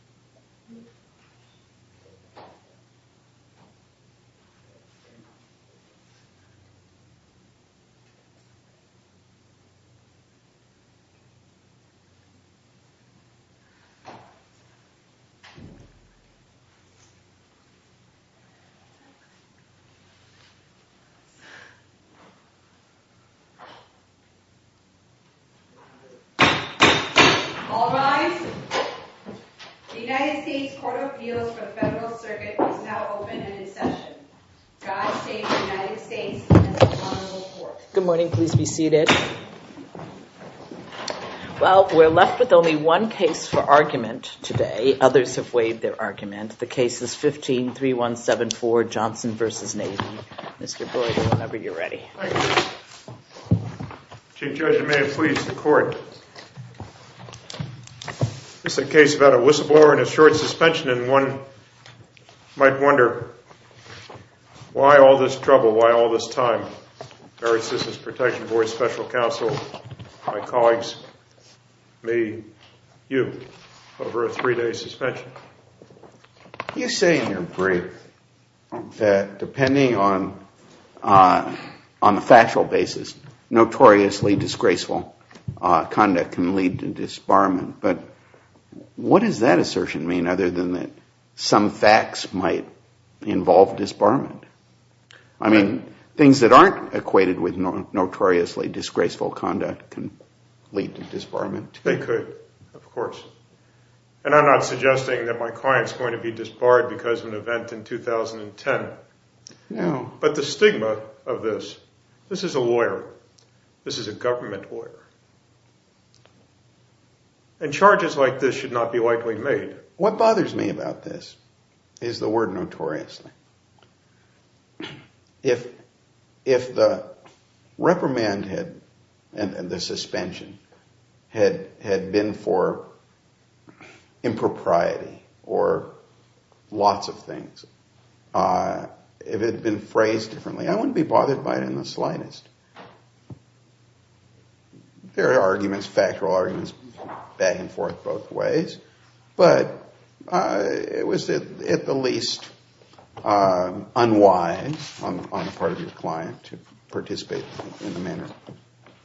Thank you. Thank you. Thank you. Thank you. Thank you. Thank you. Thank you. All rise. The United States Court of Appeals for the Federal Circuit is now open and in session. God save the United States and the Honorable Court. Good morning. Please be seated. Well, we're left with only one case for argument today. Others have waived their argument. The case is 15-3174, Johnson v. Navy. Mr. Boyd, whenever you're ready. Thank you. Chief Judge, if you may, please, the court. It's a case about a whistleblower and a short suspension, and one might wonder why all this trouble, why all this time. Merritt Citizens Protection Board, Special Counsel, my colleagues, me, you, over a three-day suspension. You say in your brief that depending on the factual basis, notoriously disgraceful conduct can lead to disbarment. But what does that assertion mean other than that some facts might involve disbarment? I mean, things that aren't equated with notoriously disgraceful conduct can lead to disbarment. They could, of course. And I'm not suggesting that my client is going to be disbarred because of an event in 2010. No. But the stigma of this, this is a lawyer. This is a government lawyer. And charges like this should not be lightly made. What bothers me about this is the word notoriously. If the reprimand and the suspension had been for impropriety or lots of things, if it had been phrased differently, I wouldn't be bothered by it in the slightest. There are arguments, factual arguments, back and forth both ways. But it was at the least unwise on the part of your client to participate in the manner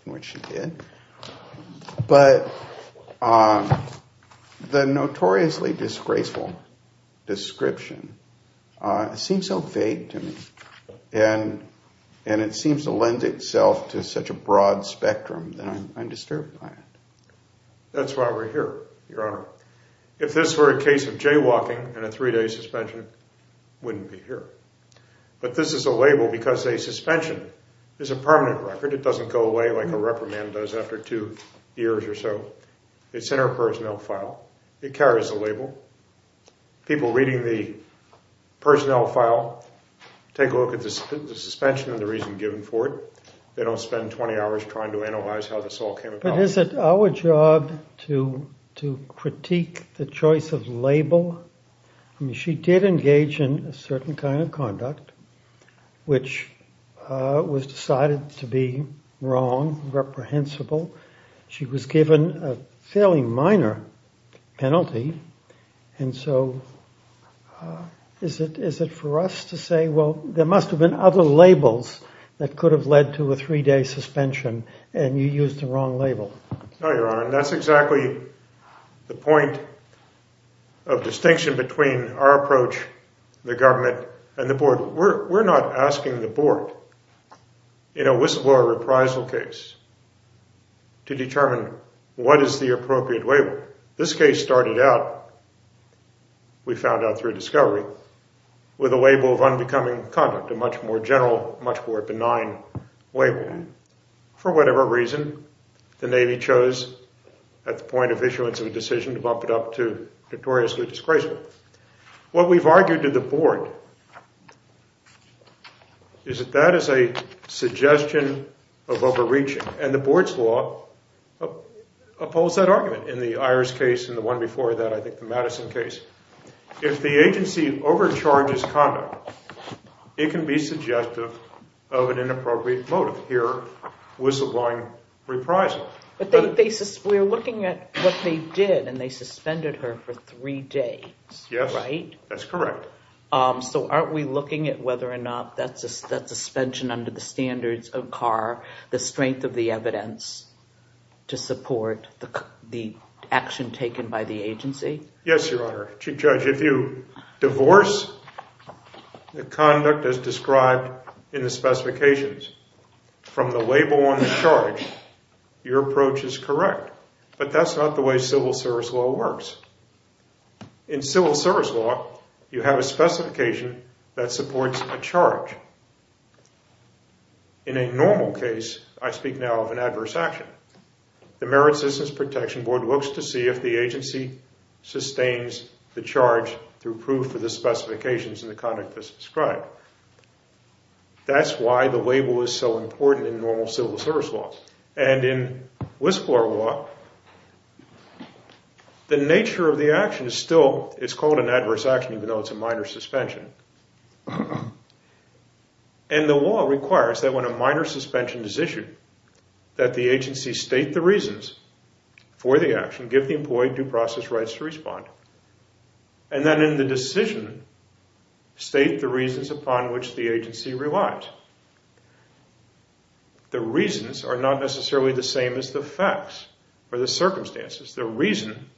in which she did. But the notoriously disgraceful description seems so vague to me. And it seems to lend itself to such a broad spectrum that I'm disturbed by it. That's why we're here, Your Honor. If this were a case of jaywalking and a three-day suspension, it wouldn't be here. But this is a label because a suspension is a permanent record. It doesn't go away like a reprimand does after two years or so. It's in our personnel file. It carries a label. People reading the personnel file take a look at the suspension and the reason given for it. They don't spend 20 hours trying to analyze how this all came about. But is it our job to critique the choice of label? I mean, she did engage in a certain kind of conduct which was decided to be wrong, reprehensible. She was given a fairly minor penalty. And so is it for us to say, well, there must have been other labels that could have led to a three-day suspension and you used the wrong label? No, Your Honor, and that's exactly the point of distinction between our approach, the government, and the board. We're not asking the board in a whistleblower reprisal case to determine what is the appropriate label. This case started out, we found out through discovery, with a label of unbecoming conduct, a much more general, much more benign label. For whatever reason, the Navy chose at the point of issuance of a decision to bump it up to notoriously disgraceful. What we've argued to the board is that that is a suggestion of overreach, and the board's law opposes that argument in the Iris case and the one before that, I think the Madison case. If the agency overcharges conduct, it can be suggestive of an inappropriate motive. Here, whistleblowing reprisal. But we're looking at what they did, and they suspended her for three days, right? Yes, that's correct. So aren't we looking at whether or not that suspension under the standards of CAR, the strength of the evidence to support the action taken by the agency? Yes, Your Honor. Chief Judge, if you divorce the conduct as described in the specifications from the label on the charge, your approach is correct. But that's not the way civil service law works. In civil service law, you have a specification that supports a charge. In a normal case, I speak now of an adverse action. The Merit Citizens Protection Board looks to see if the agency sustains the charge through proof of the specifications and the conduct as described. That's why the label is so important in normal civil service law. And in whistler law, the nature of the action is still, it's called an adverse action even though it's a minor suspension. And the law requires that when a minor suspension is issued that the agency state the reasons for the action, give the employee due process rights to respond, and then in the decision state the reasons upon which the agency relies. The reasons are not necessarily the same as the facts or the circumstances. The reason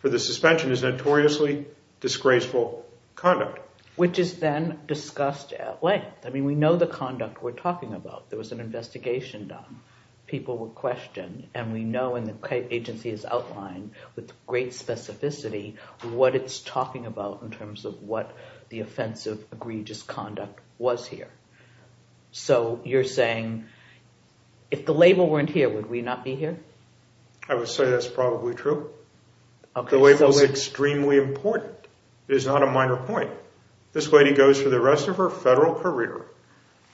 for the suspension is notoriously disgraceful conduct. Which is then discussed at length. I mean, we know the conduct we're talking about. There was an investigation done. People were questioned, and we know, and the agency has outlined with great specificity, what it's talking about in terms of what the offensive, egregious conduct was here. So you're saying if the label weren't here, would we not be here? I would say that's probably true. The label is extremely important. It is not a minor point. This lady goes for the rest of her federal career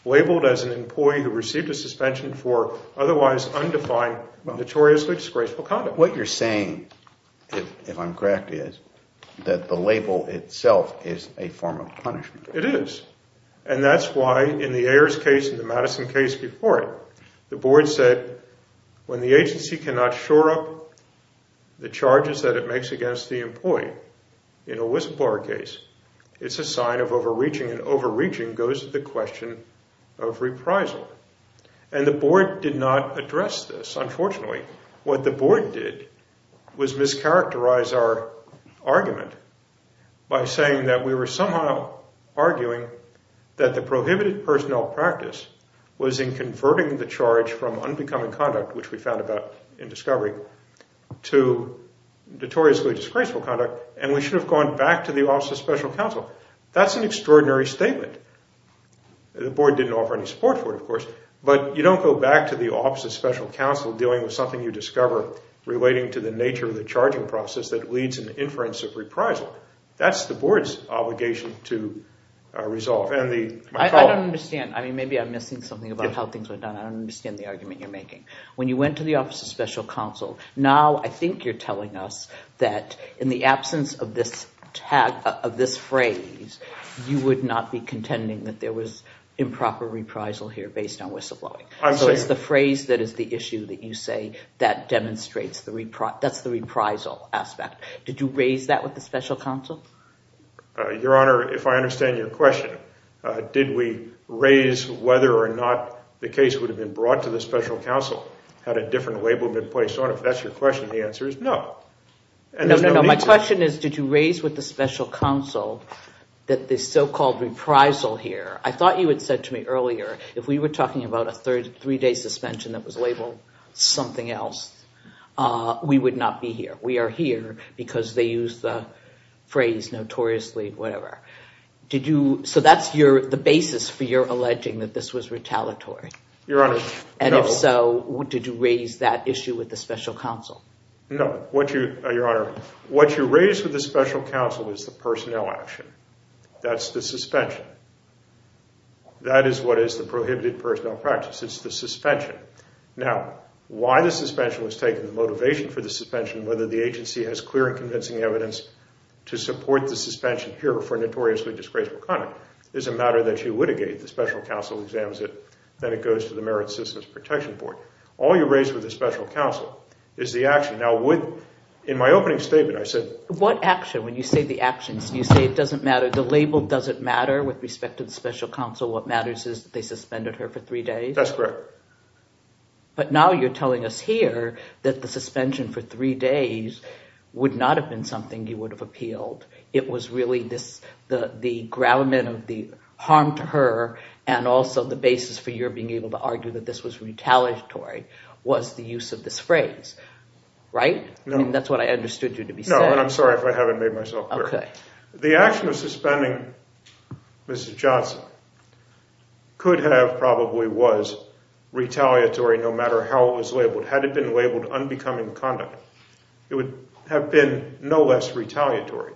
labeled as an employee who received a suspension for otherwise undefined, notoriously disgraceful conduct. What you're saying, if I'm correct, is that the label itself is a form of punishment. It is. And that's why in the Ayers case and the Madison case before it, the board said when the agency cannot shore up the charges that it makes against the employee, in a whistleblower case, it's a sign of overreaching, and overreaching goes to the question of reprisal. And the board did not address this, unfortunately. What the board did was mischaracterize our argument by saying that we were somehow arguing that the prohibited personnel practice was in converting the charge from unbecoming conduct, which we found about in discovery, to notoriously disgraceful conduct, and we should have gone back to the Office of Special Counsel. That's an extraordinary statement. The board didn't offer any support for it, of course, but you don't go back to the Office of Special Counsel dealing with something you discover relating to the nature of the charging process that leads in the inference of reprisal. That's the board's obligation to resolve. I don't understand. Maybe I'm missing something about how things were done. I don't understand the argument you're making. When you went to the Office of Special Counsel, now I think you're telling us that in the absence of this phrase, you would not be contending that there was improper reprisal here based on whistleblowing. So it's the phrase that is the issue that you say that demonstrates the reprisal aspect. Did you raise that with the Special Counsel? Your Honor, if I understand your question, did we raise whether or not the case would have been brought to the Special Counsel had a different label been placed on it? If that's your question, the answer is no. No, no, no. My question is did you raise with the Special Counsel that this so-called reprisal here, I thought you had said to me earlier, if we were talking about a three-day suspension that was labeled something else, we would not be here. We are here because they used the phrase notoriously, whatever. So that's the basis for your alleging that this was retaliatory. Your Honor, no. And if so, did you raise that issue with the Special Counsel? No. Your Honor, what you raise with the Special Counsel is the personnel action. That's the suspension. That is what is the prohibited personnel practice. It's the suspension. Now, why the suspension was taken, the motivation for the suspension, whether the agency has clear and convincing evidence to support the suspension here for a notoriously disgraceful conduct is a matter that you litigate. The Special Counsel examines it. Then it goes to the Merit Systems Protection Board. All you raise with the Special Counsel is the action. Now, in my opening statement, I said – What action? When you say the actions, you say it doesn't matter. The label doesn't matter with respect to the Special Counsel. What matters is that they suspended her for three days? That's correct. But now you're telling us here that the suspension for three days would not have been something you would have appealed. It was really the gravamen of the harm to her and also the basis for your being able to argue that this was retaliatory was the use of this phrase, right? No. That's what I understood you to be saying. No, and I'm sorry if I haven't made myself clear. Okay. The action of suspending Mrs. Johnson could have probably was retaliatory no matter how it was labeled. Had it been labeled unbecoming conduct, it would have been no less retaliatory.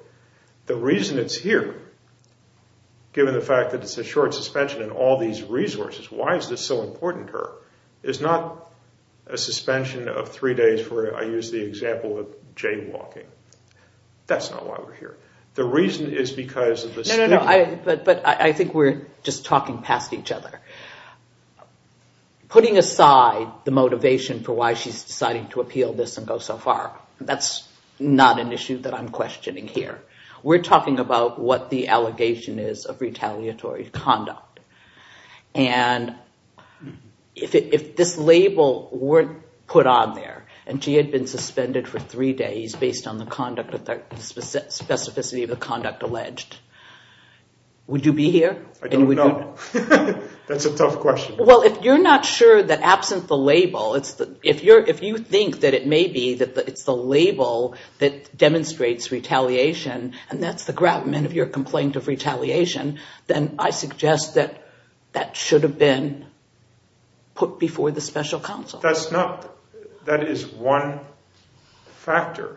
The reason it's here, given the fact that it's a short suspension and all these resources, why is this so important to her, is not a suspension of three days where I use the example of jaywalking. That's not why we're here. The reason is because of the stigma. No, no, no. But I think we're just talking past each other. Putting aside the motivation for why she's deciding to appeal this and go so far, that's not an issue that I'm questioning here. We're talking about what the allegation is of retaliatory conduct. If this label weren't put on there and she had been suspended for three days based on the specificity of the conduct alleged, would you be here? I don't know. That's a tough question. Well, if you're not sure that absent the label, if you think that it may be that it's the label that demonstrates retaliation and that's the gravamen of your complaint of retaliation, then I suggest that that should have been put before the special counsel. That is one factor.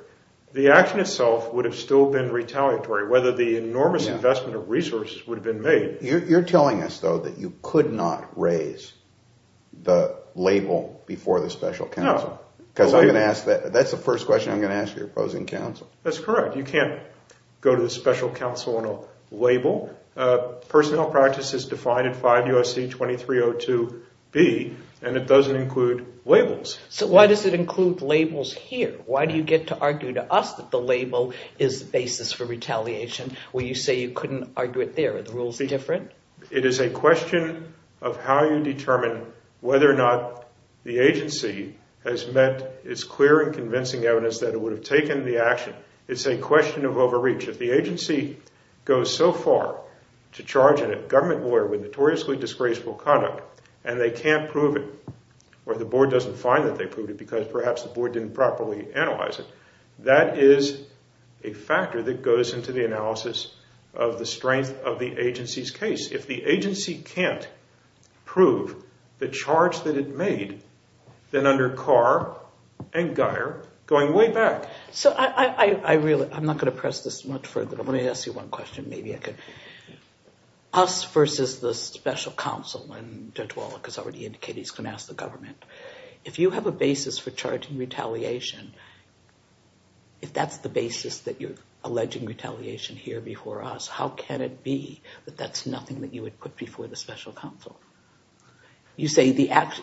The action itself would have still been retaliatory, whether the enormous investment of resources would have been made. You're telling us, though, that you could not raise the label before the special counsel. No. That's the first question I'm going to ask your opposing counsel. That's correct. You can't go to the special counsel on a label. Personnel practice is defined in 5 U.S.C. 2302b, and it doesn't include labels. So why does it include labels here? Why do you get to argue to us that the label is the basis for retaliation when you say you couldn't argue it there? Are the rules different? It is a question of how you determine whether or not the agency has met its clear and convincing evidence that it would have taken the action. It's a question of overreach. If the agency goes so far to charge a government lawyer with notoriously disgraceful conduct and they can't prove it or the board doesn't find that they proved it because perhaps the board didn't properly analyze it, that is a factor that goes into the analysis of the strength of the agency's case. If the agency can't prove the charge that it made, then under Carr and Geier, going way back. So I'm not going to press this much further. Let me ask you one question. Us versus the special counsel, and Judge Wallach has already indicated he's going to ask the government. If you have a basis for charging retaliation, if that's the basis that you're alleging retaliation here before us, how can it be that that's nothing that you would put before the special counsel? You say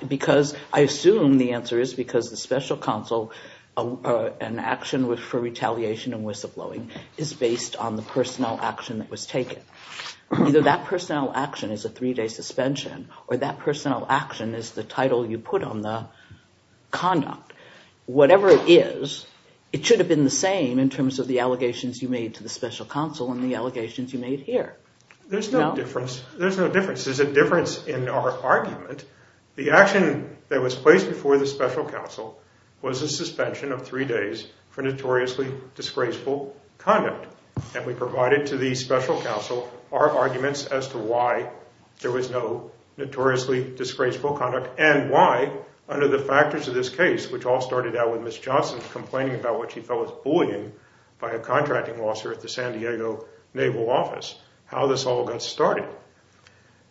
because I assume the answer is because the special counsel, an action for retaliation and whistleblowing is based on the personnel action that was taken. Either that personnel action is a three-day suspension or that personnel action is the title you put on the conduct. Whatever it is, it should have been the same in terms of the allegations you made to the special counsel and the allegations you made here. There's no difference. There's a difference in our argument. The action that was placed before the special counsel was a suspension of three days for notoriously disgraceful conduct, and we provided to the special counsel our arguments as to why there was no notoriously disgraceful conduct and why under the factors of this case, which all started out with Ms. Johnson complaining about what she felt was bullying by a contracting officer at the San Diego Naval Office, how this all got started.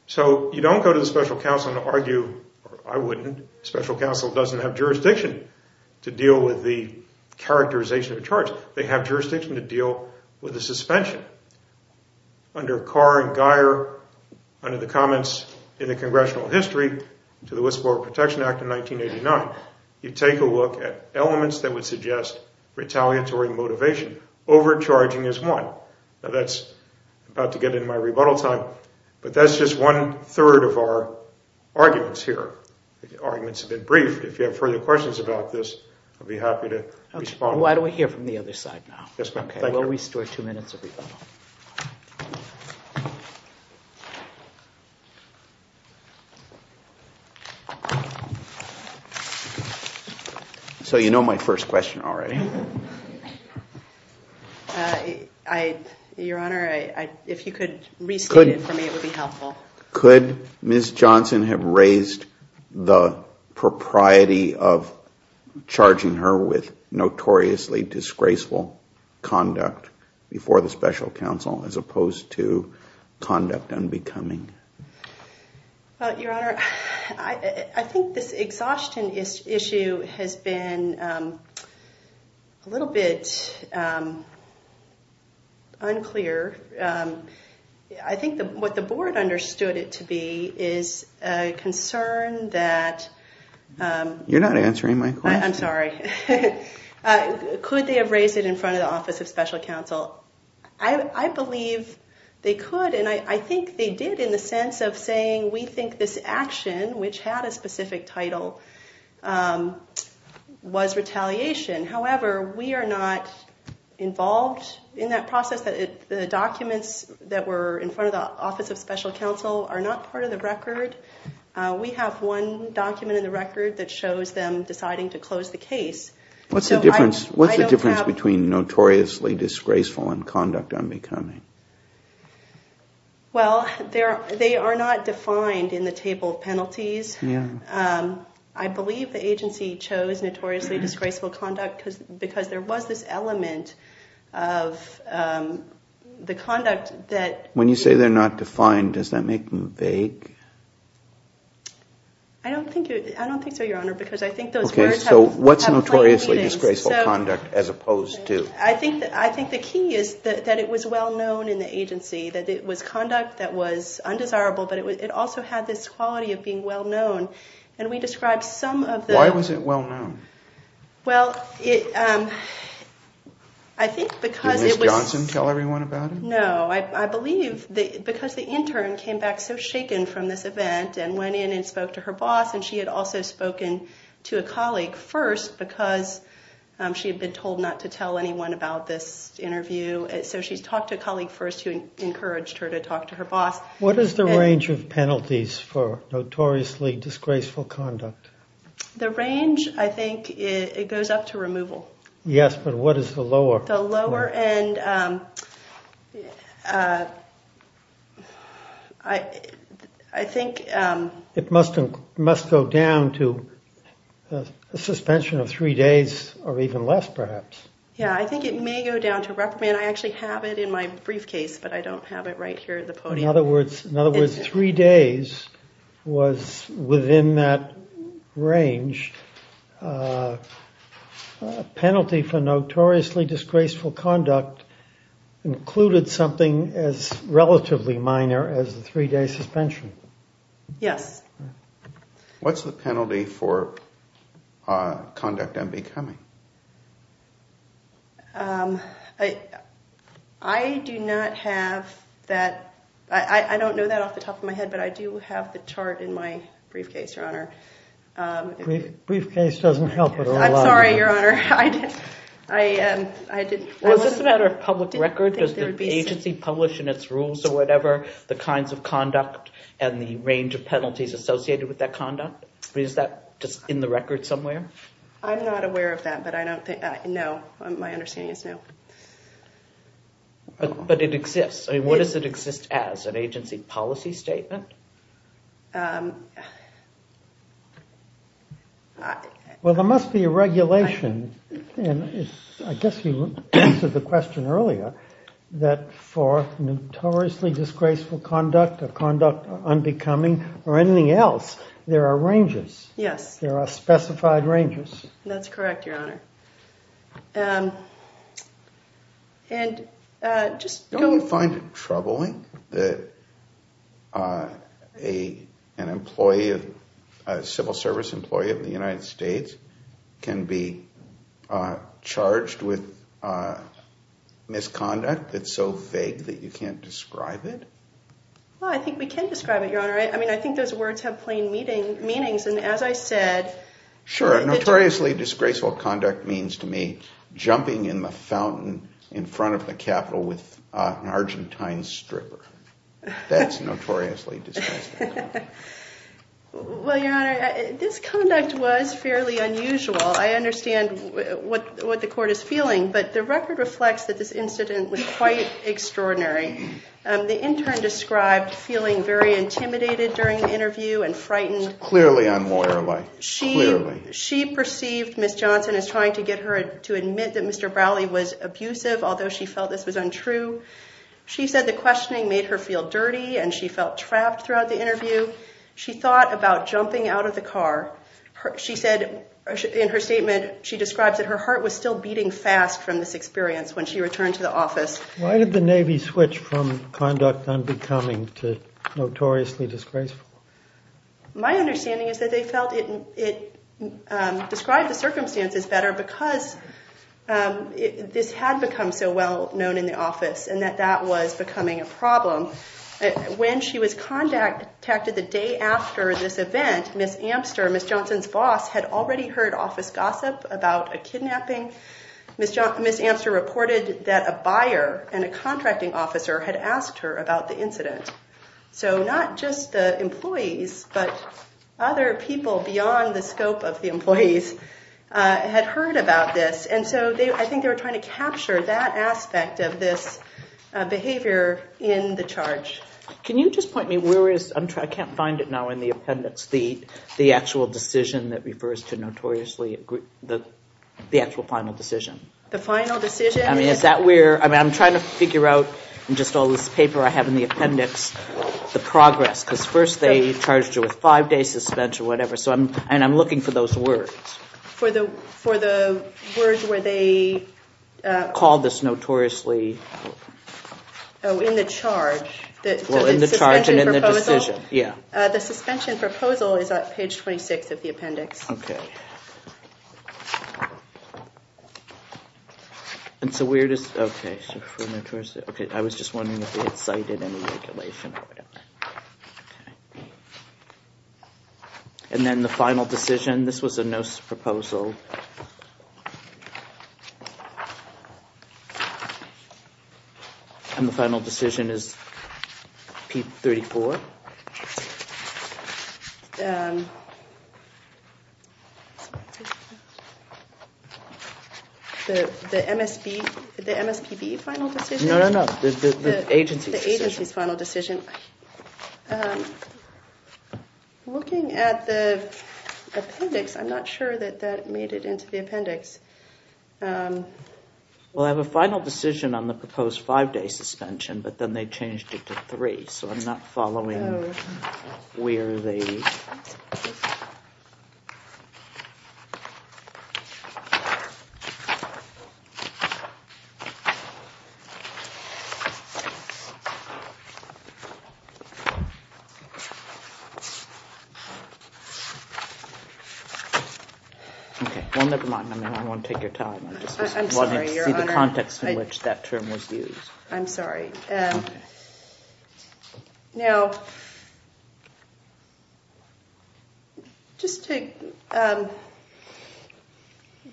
So you don't go to the special counsel and argue, or I wouldn't, special counsel doesn't have jurisdiction to deal with the characterization of charge. They have jurisdiction to deal with the suspension. Under Carr and Geier, under the comments in the Congressional History to the Whistleblower Protection Act of 1989, you take a look at elements that would suggest retaliatory motivation. Overcharging is one. Now that's about to get into my rebuttal time, but that's just one-third of our arguments here. The arguments have been briefed. If you have further questions about this, I'd be happy to respond. Why don't we hear from the other side now? Yes, ma'am. Thank you. We'll restore two minutes of rebuttal. So you know my first question already. Your Honor, if you could restate it for me, it would be helpful. Could Ms. Johnson have raised the propriety of charging her with notoriously disgraceful conduct before the special counsel as opposed to conduct unbecoming? Your Honor, I think this exhaustion issue has been a little bit unclear. I think what the board understood it to be is a concern that— You're not answering my question. I'm sorry. Could they have raised it in front of the office of special counsel? I believe they could, and I think they did in the sense of saying we think this action, which had a specific title, was retaliation. However, we are not involved in that process. The documents that were in front of the office of special counsel are not part of the record. We have one document in the record that shows them deciding to close the case. What's the difference between notoriously disgraceful and conduct unbecoming? Well, they are not defined in the table of penalties. I believe the agency chose notoriously disgraceful conduct because there was this element of the conduct that— When you say they're not defined, does that make them vague? I don't think so, Your Honor, because I think those words have— So what's notoriously disgraceful conduct as opposed to? I think the key is that it was well-known in the agency, that it was conduct that was undesirable, but it also had this quality of being well-known, and we described some of the— Why was it well-known? Well, I think because it was— Did Ms. Johnson tell everyone about it? No. I believe because the intern came back so shaken from this event and went in and spoke to her boss, and she had also spoken to a colleague first because she had been told not to tell anyone about this interview. So she talked to a colleague first who encouraged her to talk to her boss. What is the range of penalties for notoriously disgraceful conduct? The range, I think it goes up to removal. Yes, but what is the lower? The lower end, I think— It must go down to a suspension of three days or even less, perhaps. Yeah, I think it may go down to reprimand. I actually have it in my briefcase, but I don't have it right here at the podium. In other words, three days was within that range. A penalty for notoriously disgraceful conduct included something as relatively minor as a three-day suspension. Yes. What's the penalty for conduct unbecoming? I do not have that. I don't know that off the top of my head, but I do have the chart in my briefcase, Your Honor. Briefcase doesn't help at all. I'm sorry, Your Honor. Well, is this a matter of public record? Does the agency publish in its rules or whatever the kinds of conduct and the range of penalties associated with that conduct? Is that just in the record somewhere? I'm not aware of that, but I don't think—no, my understanding is no. But it exists. What does it exist as, an agency policy statement? Well, there must be a regulation, and I guess you answered the question earlier, that for notoriously disgraceful conduct or conduct unbecoming or anything else, there are ranges. Yes. There are specified ranges. That's correct, Your Honor. Don't you find it troubling that an employee of—a civil service employee of the United States can be charged with misconduct that's so vague that you can't describe it? Well, I think we can describe it, Your Honor. I mean, I think those words have plain meanings, and as I said— What does notoriously disgraceful conduct mean to me? Jumping in the fountain in front of the Capitol with an Argentine stripper. That's notoriously disgraceful conduct. Well, Your Honor, this conduct was fairly unusual. I understand what the court is feeling, but the record reflects that this incident was quite extraordinary. The intern described feeling very intimidated during the interview and frightened. Clearly unlawyerly. Clearly. She perceived Ms. Johnson as trying to get her to admit that Mr. Browley was abusive, although she felt this was untrue. She said the questioning made her feel dirty, and she felt trapped throughout the interview. She thought about jumping out of the car. She said in her statement, she describes that her heart was still beating fast from this experience when she returned to the office. Why did the Navy switch from conduct unbecoming to notoriously disgraceful? My understanding is that they felt it described the circumstances better because this had become so well known in the office, and that that was becoming a problem. When she was contacted the day after this event, Ms. Amster, Ms. Johnson's boss, had already heard office gossip about a kidnapping. Ms. Amster reported that a buyer and a contracting officer had asked her about the incident. So not just the employees, but other people beyond the scope of the employees had heard about this. And so I think they were trying to capture that aspect of this behavior in the charge. Can you just point me where is, I can't find it now in the appendix, the actual decision that refers to notoriously the actual final decision? The final decision? I mean, is that where, I mean, I'm trying to figure out in just all this paper I have in the appendix, the progress. Because first they charged her with five day suspension or whatever. So I'm, and I'm looking for those words. For the, for the words where they. Call this notoriously. Oh, in the charge. Well, in the charge and in the decision. Yeah. The suspension proposal is on page 26 of the appendix. Okay. And so we're just okay. Okay, I was just wondering if they had cited any regulation or whatever. And then the final decision. This was a notice proposal. And the final decision is. P34. The MSP. The MSP final decision. No, no, no. The agency agency's final decision. Okay. Looking at the appendix I'm not sure that that made it into the appendix. Well, I have a final decision on the proposed five day suspension, but then they changed it to three. So I'm not following. Where they. Well, nevermind. I mean, I want to take your time. I just wanted to see the context in which that term was used. I'm sorry. All right. Now. Just to.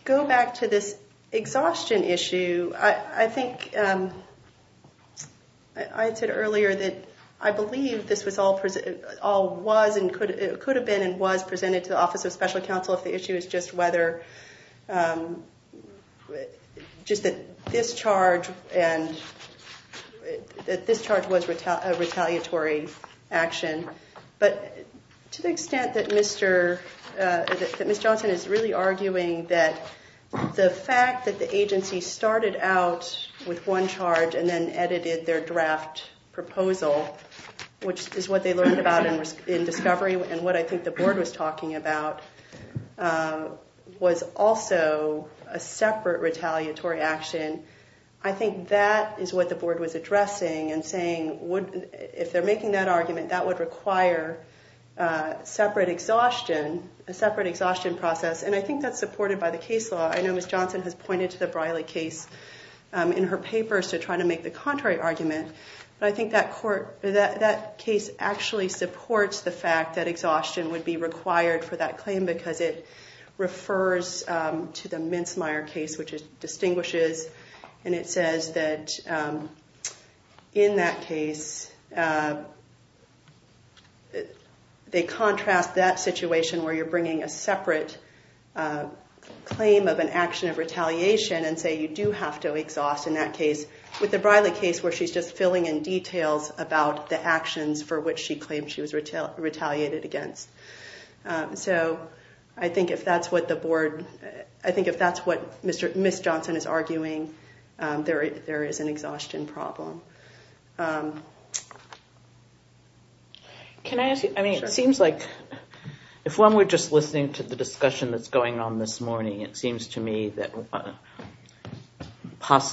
Go back to this exhaustion issue. I think. I said earlier that I believe this was all present. All was and could it could have been and was presented to the office of special counsel. If the issue is just whether. Just that this charge and. That this charge was retaliatory action. But to the extent that Mr. Johnson is really arguing that the fact that the agency started out with one charge and then edited their draft proposal, which is what they learned about in discovery. And what I think the board was talking about was also a separate retaliatory action. I think that is what the board was addressing and saying, if they're making that argument, that would require separate exhaustion, a separate exhaustion process. And I think that's supported by the case law. I know Miss Johnson has pointed to the Briley case in her papers to try to make the contrary argument. But I think that court that that case actually supports the fact that exhaustion would be required for that claim because it refers to the Mincemeyer case, which distinguishes. And it says that in that case. They contrast that situation where you're bringing a separate claim of an action of retaliation and say, you do have to exhaust in that case with the Briley case where she's just filling in details about the actions for which she claimed she was retaliated against. So I think if that's what the board, I think if that's what Miss Johnson is arguing, there is an exhaustion problem. Can I ask you, I mean, it seems like if one were just listening to the discussion that's going on this morning, it seems to me that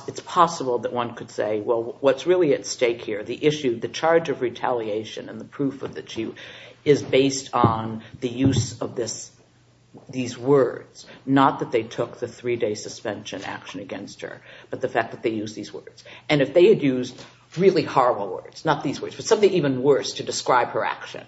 it's possible that one could say, well, what's really at stake here, the issue, the charge of retaliation and the proof of the two is based on the use of this, these words, not that they took the three day suspension action against her, but the fact that they use these words. And if they had used really horrible words, not these words, but something even worse to describe her action,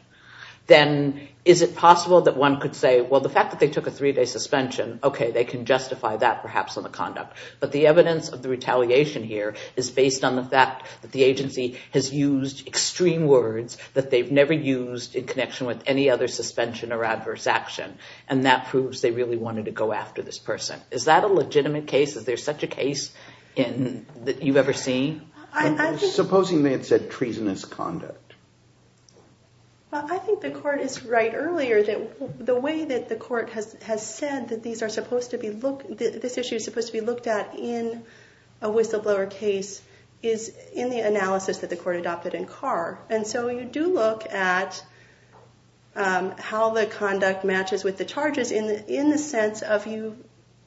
then is it possible that one could say, well, the fact that they took a three day suspension, okay, they can justify that perhaps on the conduct. But the evidence of the retaliation here is based on the fact that the agency has used extreme words that they've never used in connection with any other suspension or adverse action. And that proves they really wanted to go after this person. Is that a legitimate case? Is there such a case that you've ever seen? Supposing they had said treasonous conduct? Well, I think the court is right earlier that the way that the court has said that these are supposed to be looked, this issue is supposed to be looked at in a whistleblower case is in the analysis that the court adopted in Carr. And so you do look at how the conduct matches with the charges in the sense of you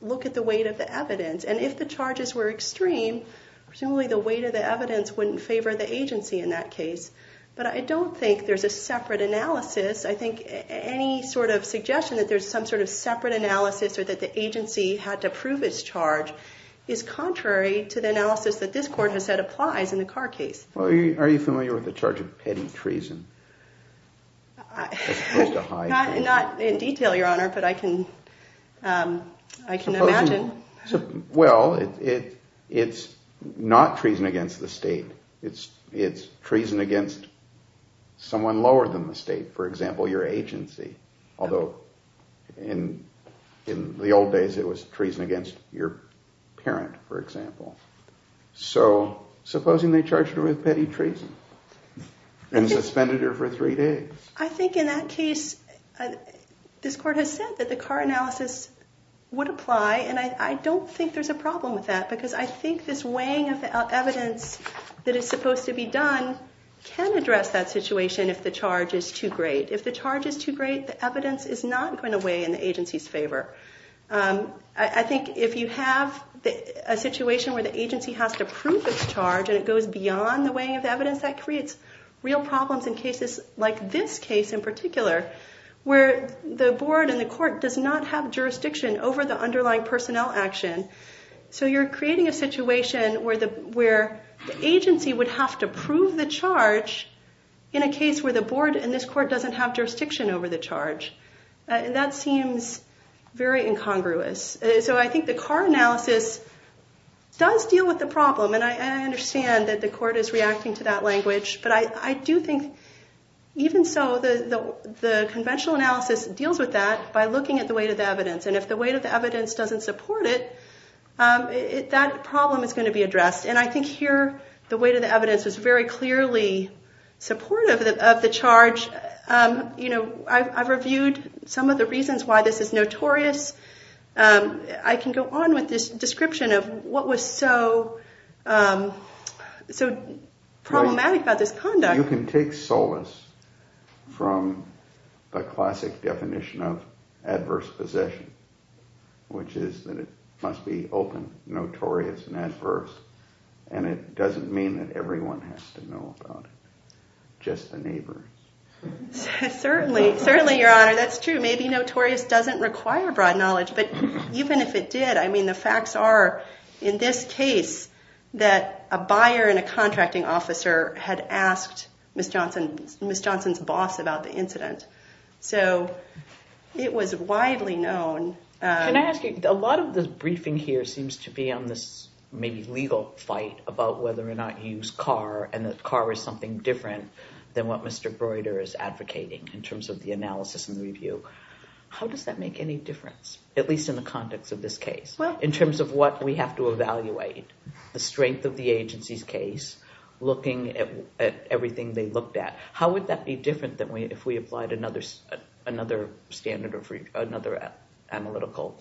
look at the weight of the evidence. And if the charges were extreme, presumably the weight of the evidence wouldn't favor the agency in that case. But I don't think there's a separate analysis. I think any sort of suggestion that there's some sort of separate analysis or that the agency had to prove its charge is contrary to the analysis that this court has said applies in the Carr case. Well, are you familiar with the charge of petty treason as opposed to high treason? Not in detail, Your Honor, but I can imagine. Well, it's not treason against the state. It's treason against someone lower than the state, for example, your agency, although in the old days it was treason against your parent, for example. So supposing they charged her with petty treason and suspended her for three days? I think in that case, this court has said that the Carr analysis would apply. And I don't think there's a problem with that because I think this weighing of the evidence that is supposed to be done can address that situation if the charge is too great. If the charge is too great, the evidence is not going to weigh in the agency's favor. I think if you have a situation where the agency has to prove its charge and it goes beyond the weighing of evidence, that creates real problems in cases like this case in particular, where the board and the court does not have jurisdiction over the underlying personnel action. So you're creating a situation where the agency would have to prove the charge in a case where the board and this court doesn't have jurisdiction over the charge. And that seems very incongruous. So I think the Carr analysis does deal with the problem. And I understand that the court is reacting to that language. But I do think, even so, the conventional analysis deals with that by looking at the weight of the evidence. And if the weight of the evidence doesn't support it, that problem is going to be addressed. And I think here the weight of the evidence is very clearly supportive of the charge. I've reviewed some of the reasons why this is notorious. I can go on with this description of what was so problematic about this conduct. You can take solace from the classic definition of adverse possession, which is that it must be open, notorious, and adverse. And it doesn't mean that everyone has to know about it, just the neighbor. Certainly, Your Honor, that's true. Maybe notorious doesn't require broad knowledge. But even if it did, I mean, the facts are, in this case, that a buyer and a contracting officer had asked Ms. Johnson's boss about the incident. So it was widely known. Can I ask you, a lot of the briefing here seems to be on this maybe legal fight about whether or not you use car, and that car is something different than what Mr. Breuder is advocating in terms of the analysis and the review. How does that make any difference, at least in the context of this case, in terms of what we have to evaluate? The strength of the agency's case, looking at everything they looked at, how would that be different than if we applied another standard or another analytical?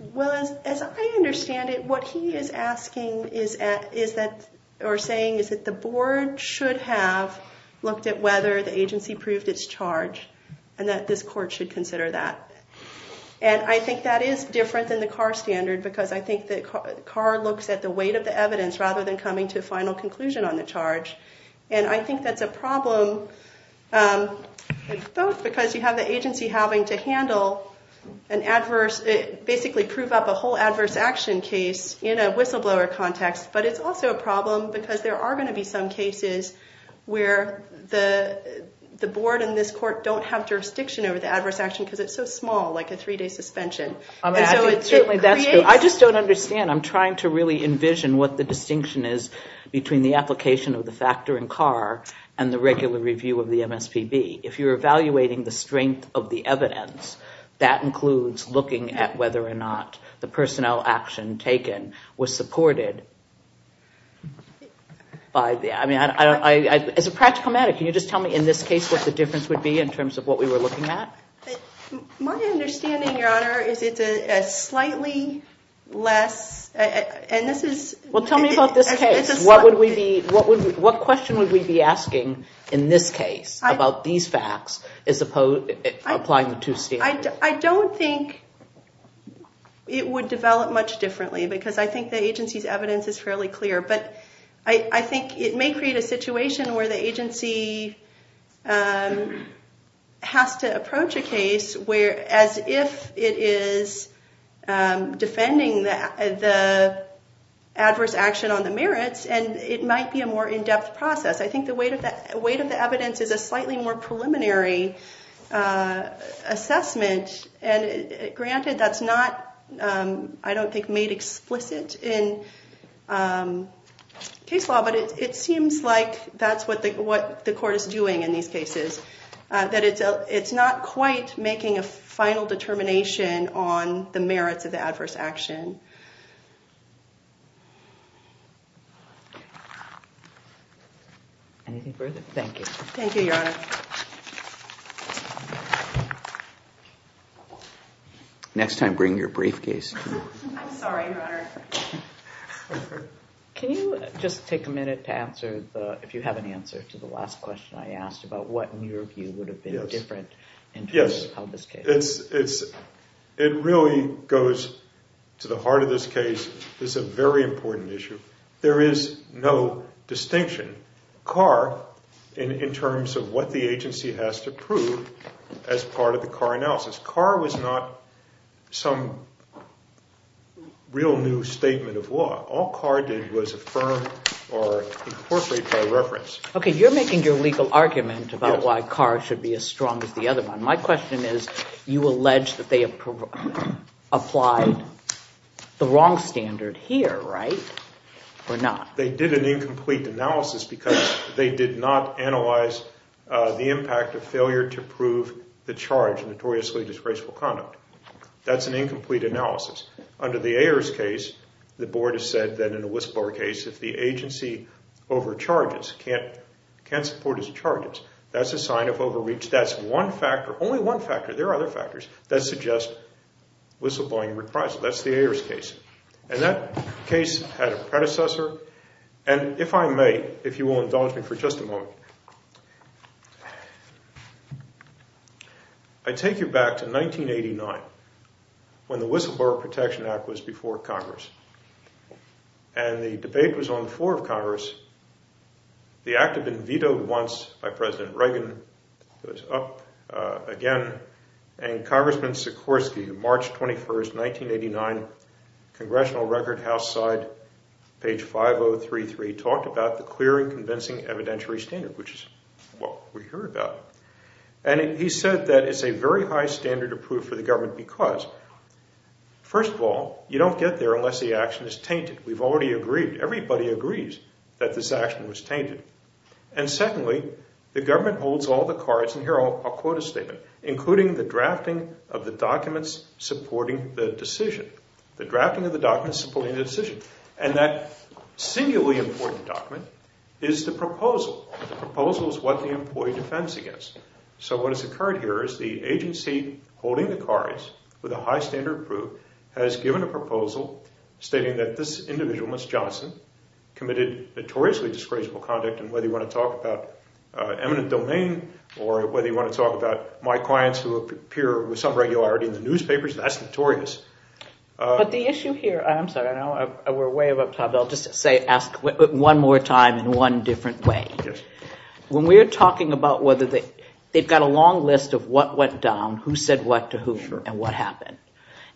Well, as I understand it, what he is asking or saying is that the board should have looked at whether the agency proved its charge and that this court should consider that. And I think that is different than the car standard because I think the car looks at the weight of the evidence rather than coming to a final conclusion on the charge. And I think that's a problem, both because you have the agency having to handle an adverse, basically prove up a whole adverse action case in a whistleblower context, but it's also a problem because there are going to be some cases where the board and this court don't have jurisdiction over the adverse action because it's so small, like a three-day suspension. I just don't understand. I'm trying to really envision what the distinction is between the application of the factor in car and the regular review of the MSPB. If you're evaluating the strength of the evidence, that includes looking at whether or not the personnel action taken was supported. As a practical matter, can you just tell me in this case what the difference would be in terms of what we were looking at? My understanding, Your Honor, is it's a slightly less – and this is – Well, tell me about this case. What would we be – what question would we be asking in this case about these facts as opposed – applying the two standards? I don't think it would develop much differently because I think the agency's evidence is fairly clear. But I think it may create a situation where the agency has to approach a case as if it is defending the adverse action on the merits, and it might be a more in-depth process. I think the weight of the evidence is a slightly more preliminary assessment. Granted, that's not, I don't think, made explicit in case law, but it seems like that's what the court is doing in these cases, that it's not quite making a final determination on the merits of the adverse action. Anything further? Thank you. Thank you, Your Honor. Next time, bring your briefcase. I'm sorry, Your Honor. Can you just take a minute to answer the – if you have an answer to the last question I asked about what, in your view, would have been different in terms of how this case – Yes. It's – it really goes to the heart of this case. This is a very important issue. There is no distinction. CAR, in terms of what the agency has to prove as part of the CAR analysis, CAR was not some real new statement of law. All CAR did was affirm or incorporate by reference. Okay. You're making your legal argument about why CAR should be as strong as the other one. My question is you allege that they applied the wrong standard here, right, or not? They did an incomplete analysis because they did not analyze the impact of failure to prove the charge, notoriously disgraceful conduct. That's an incomplete analysis. Under the Ayers case, the board has said that in a whistleblower case, if the agency overcharges, can't support its charges, that's a sign of overreach. That's one factor – only one factor. There are other factors that suggest whistleblowing requires it. That's the Ayers case. And that case had a predecessor. And if I may, if you will indulge me for just a moment, I take you back to 1989 when the Whistleblower Protection Act was before Congress. And the debate was on the floor of Congress. The act had been vetoed once by President Reagan. It was up again. And Congressman Sikorsky, March 21, 1989, Congressional Record House side, page 5033, talked about the clear and convincing evidentiary standard, which is what we hear about. And he said that it's a very high standard to prove for the government because, first of all, you don't get there unless the action is tainted. We've already agreed. Everybody agrees that this action was tainted. And secondly, the government holds all the cards, and here I'll quote a statement, including the drafting of the documents supporting the decision. The drafting of the documents supporting the decision. And that singularly important document is the proposal. The proposal is what the employee defends against. So what has occurred here is the agency holding the cards with a high standard to prove has given a proposal stating that this individual, committed notoriously disgraceful conduct, and whether you want to talk about eminent domain or whether you want to talk about my clients who appear with some regularity in the newspapers, that's notorious. But the issue here, I'm sorry, I know we're way above time, but I'll just ask one more time in one different way. When we're talking about whether they've got a long list of what went down, who said what to who and what happened,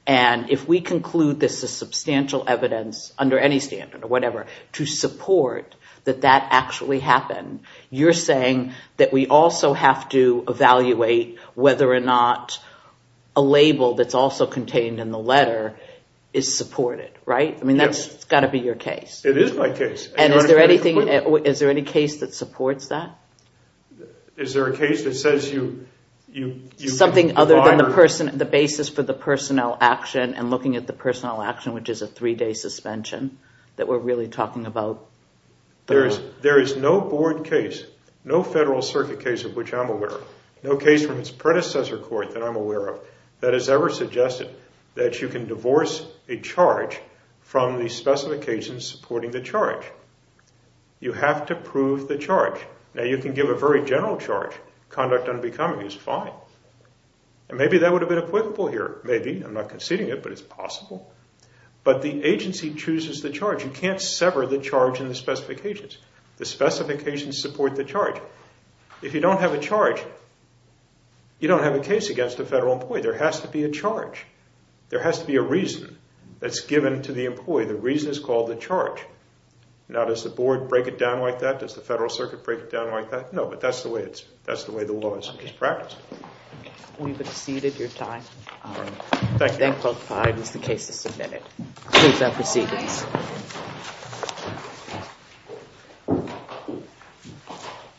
and if we conclude this is substantial evidence under any standard or whatever to support that that actually happened, you're saying that we also have to evaluate whether or not a label that's also contained in the letter is supported, right? I mean, that's got to be your case. It is my case. And is there anything, is there any case that supports that? Is there a case that says you, you, you. Is there something other than the basis for the personnel action and looking at the personnel action, which is a three-day suspension, that we're really talking about? There is no board case, no Federal Circuit case of which I'm aware, no case from its predecessor court that I'm aware of that has ever suggested that you can divorce a charge from the specifications supporting the charge. You have to prove the charge. Now, you can give a very general charge. Conduct unbecoming is fine. And maybe that would have been applicable here. Maybe. I'm not conceding it, but it's possible. But the agency chooses the charge. You can't sever the charge in the specifications. The specifications support the charge. If you don't have a charge, you don't have a case against a Federal employee. There has to be a charge. There has to be a reason that's given to the employee. The reason is called the charge. Now, does the board break it down like that? Does the Federal Circuit break it down like that? No, but that's the way the law is practiced. We've exceeded your time. Thank you. Then Clause 5 is the case as submitted. Please have proceedings.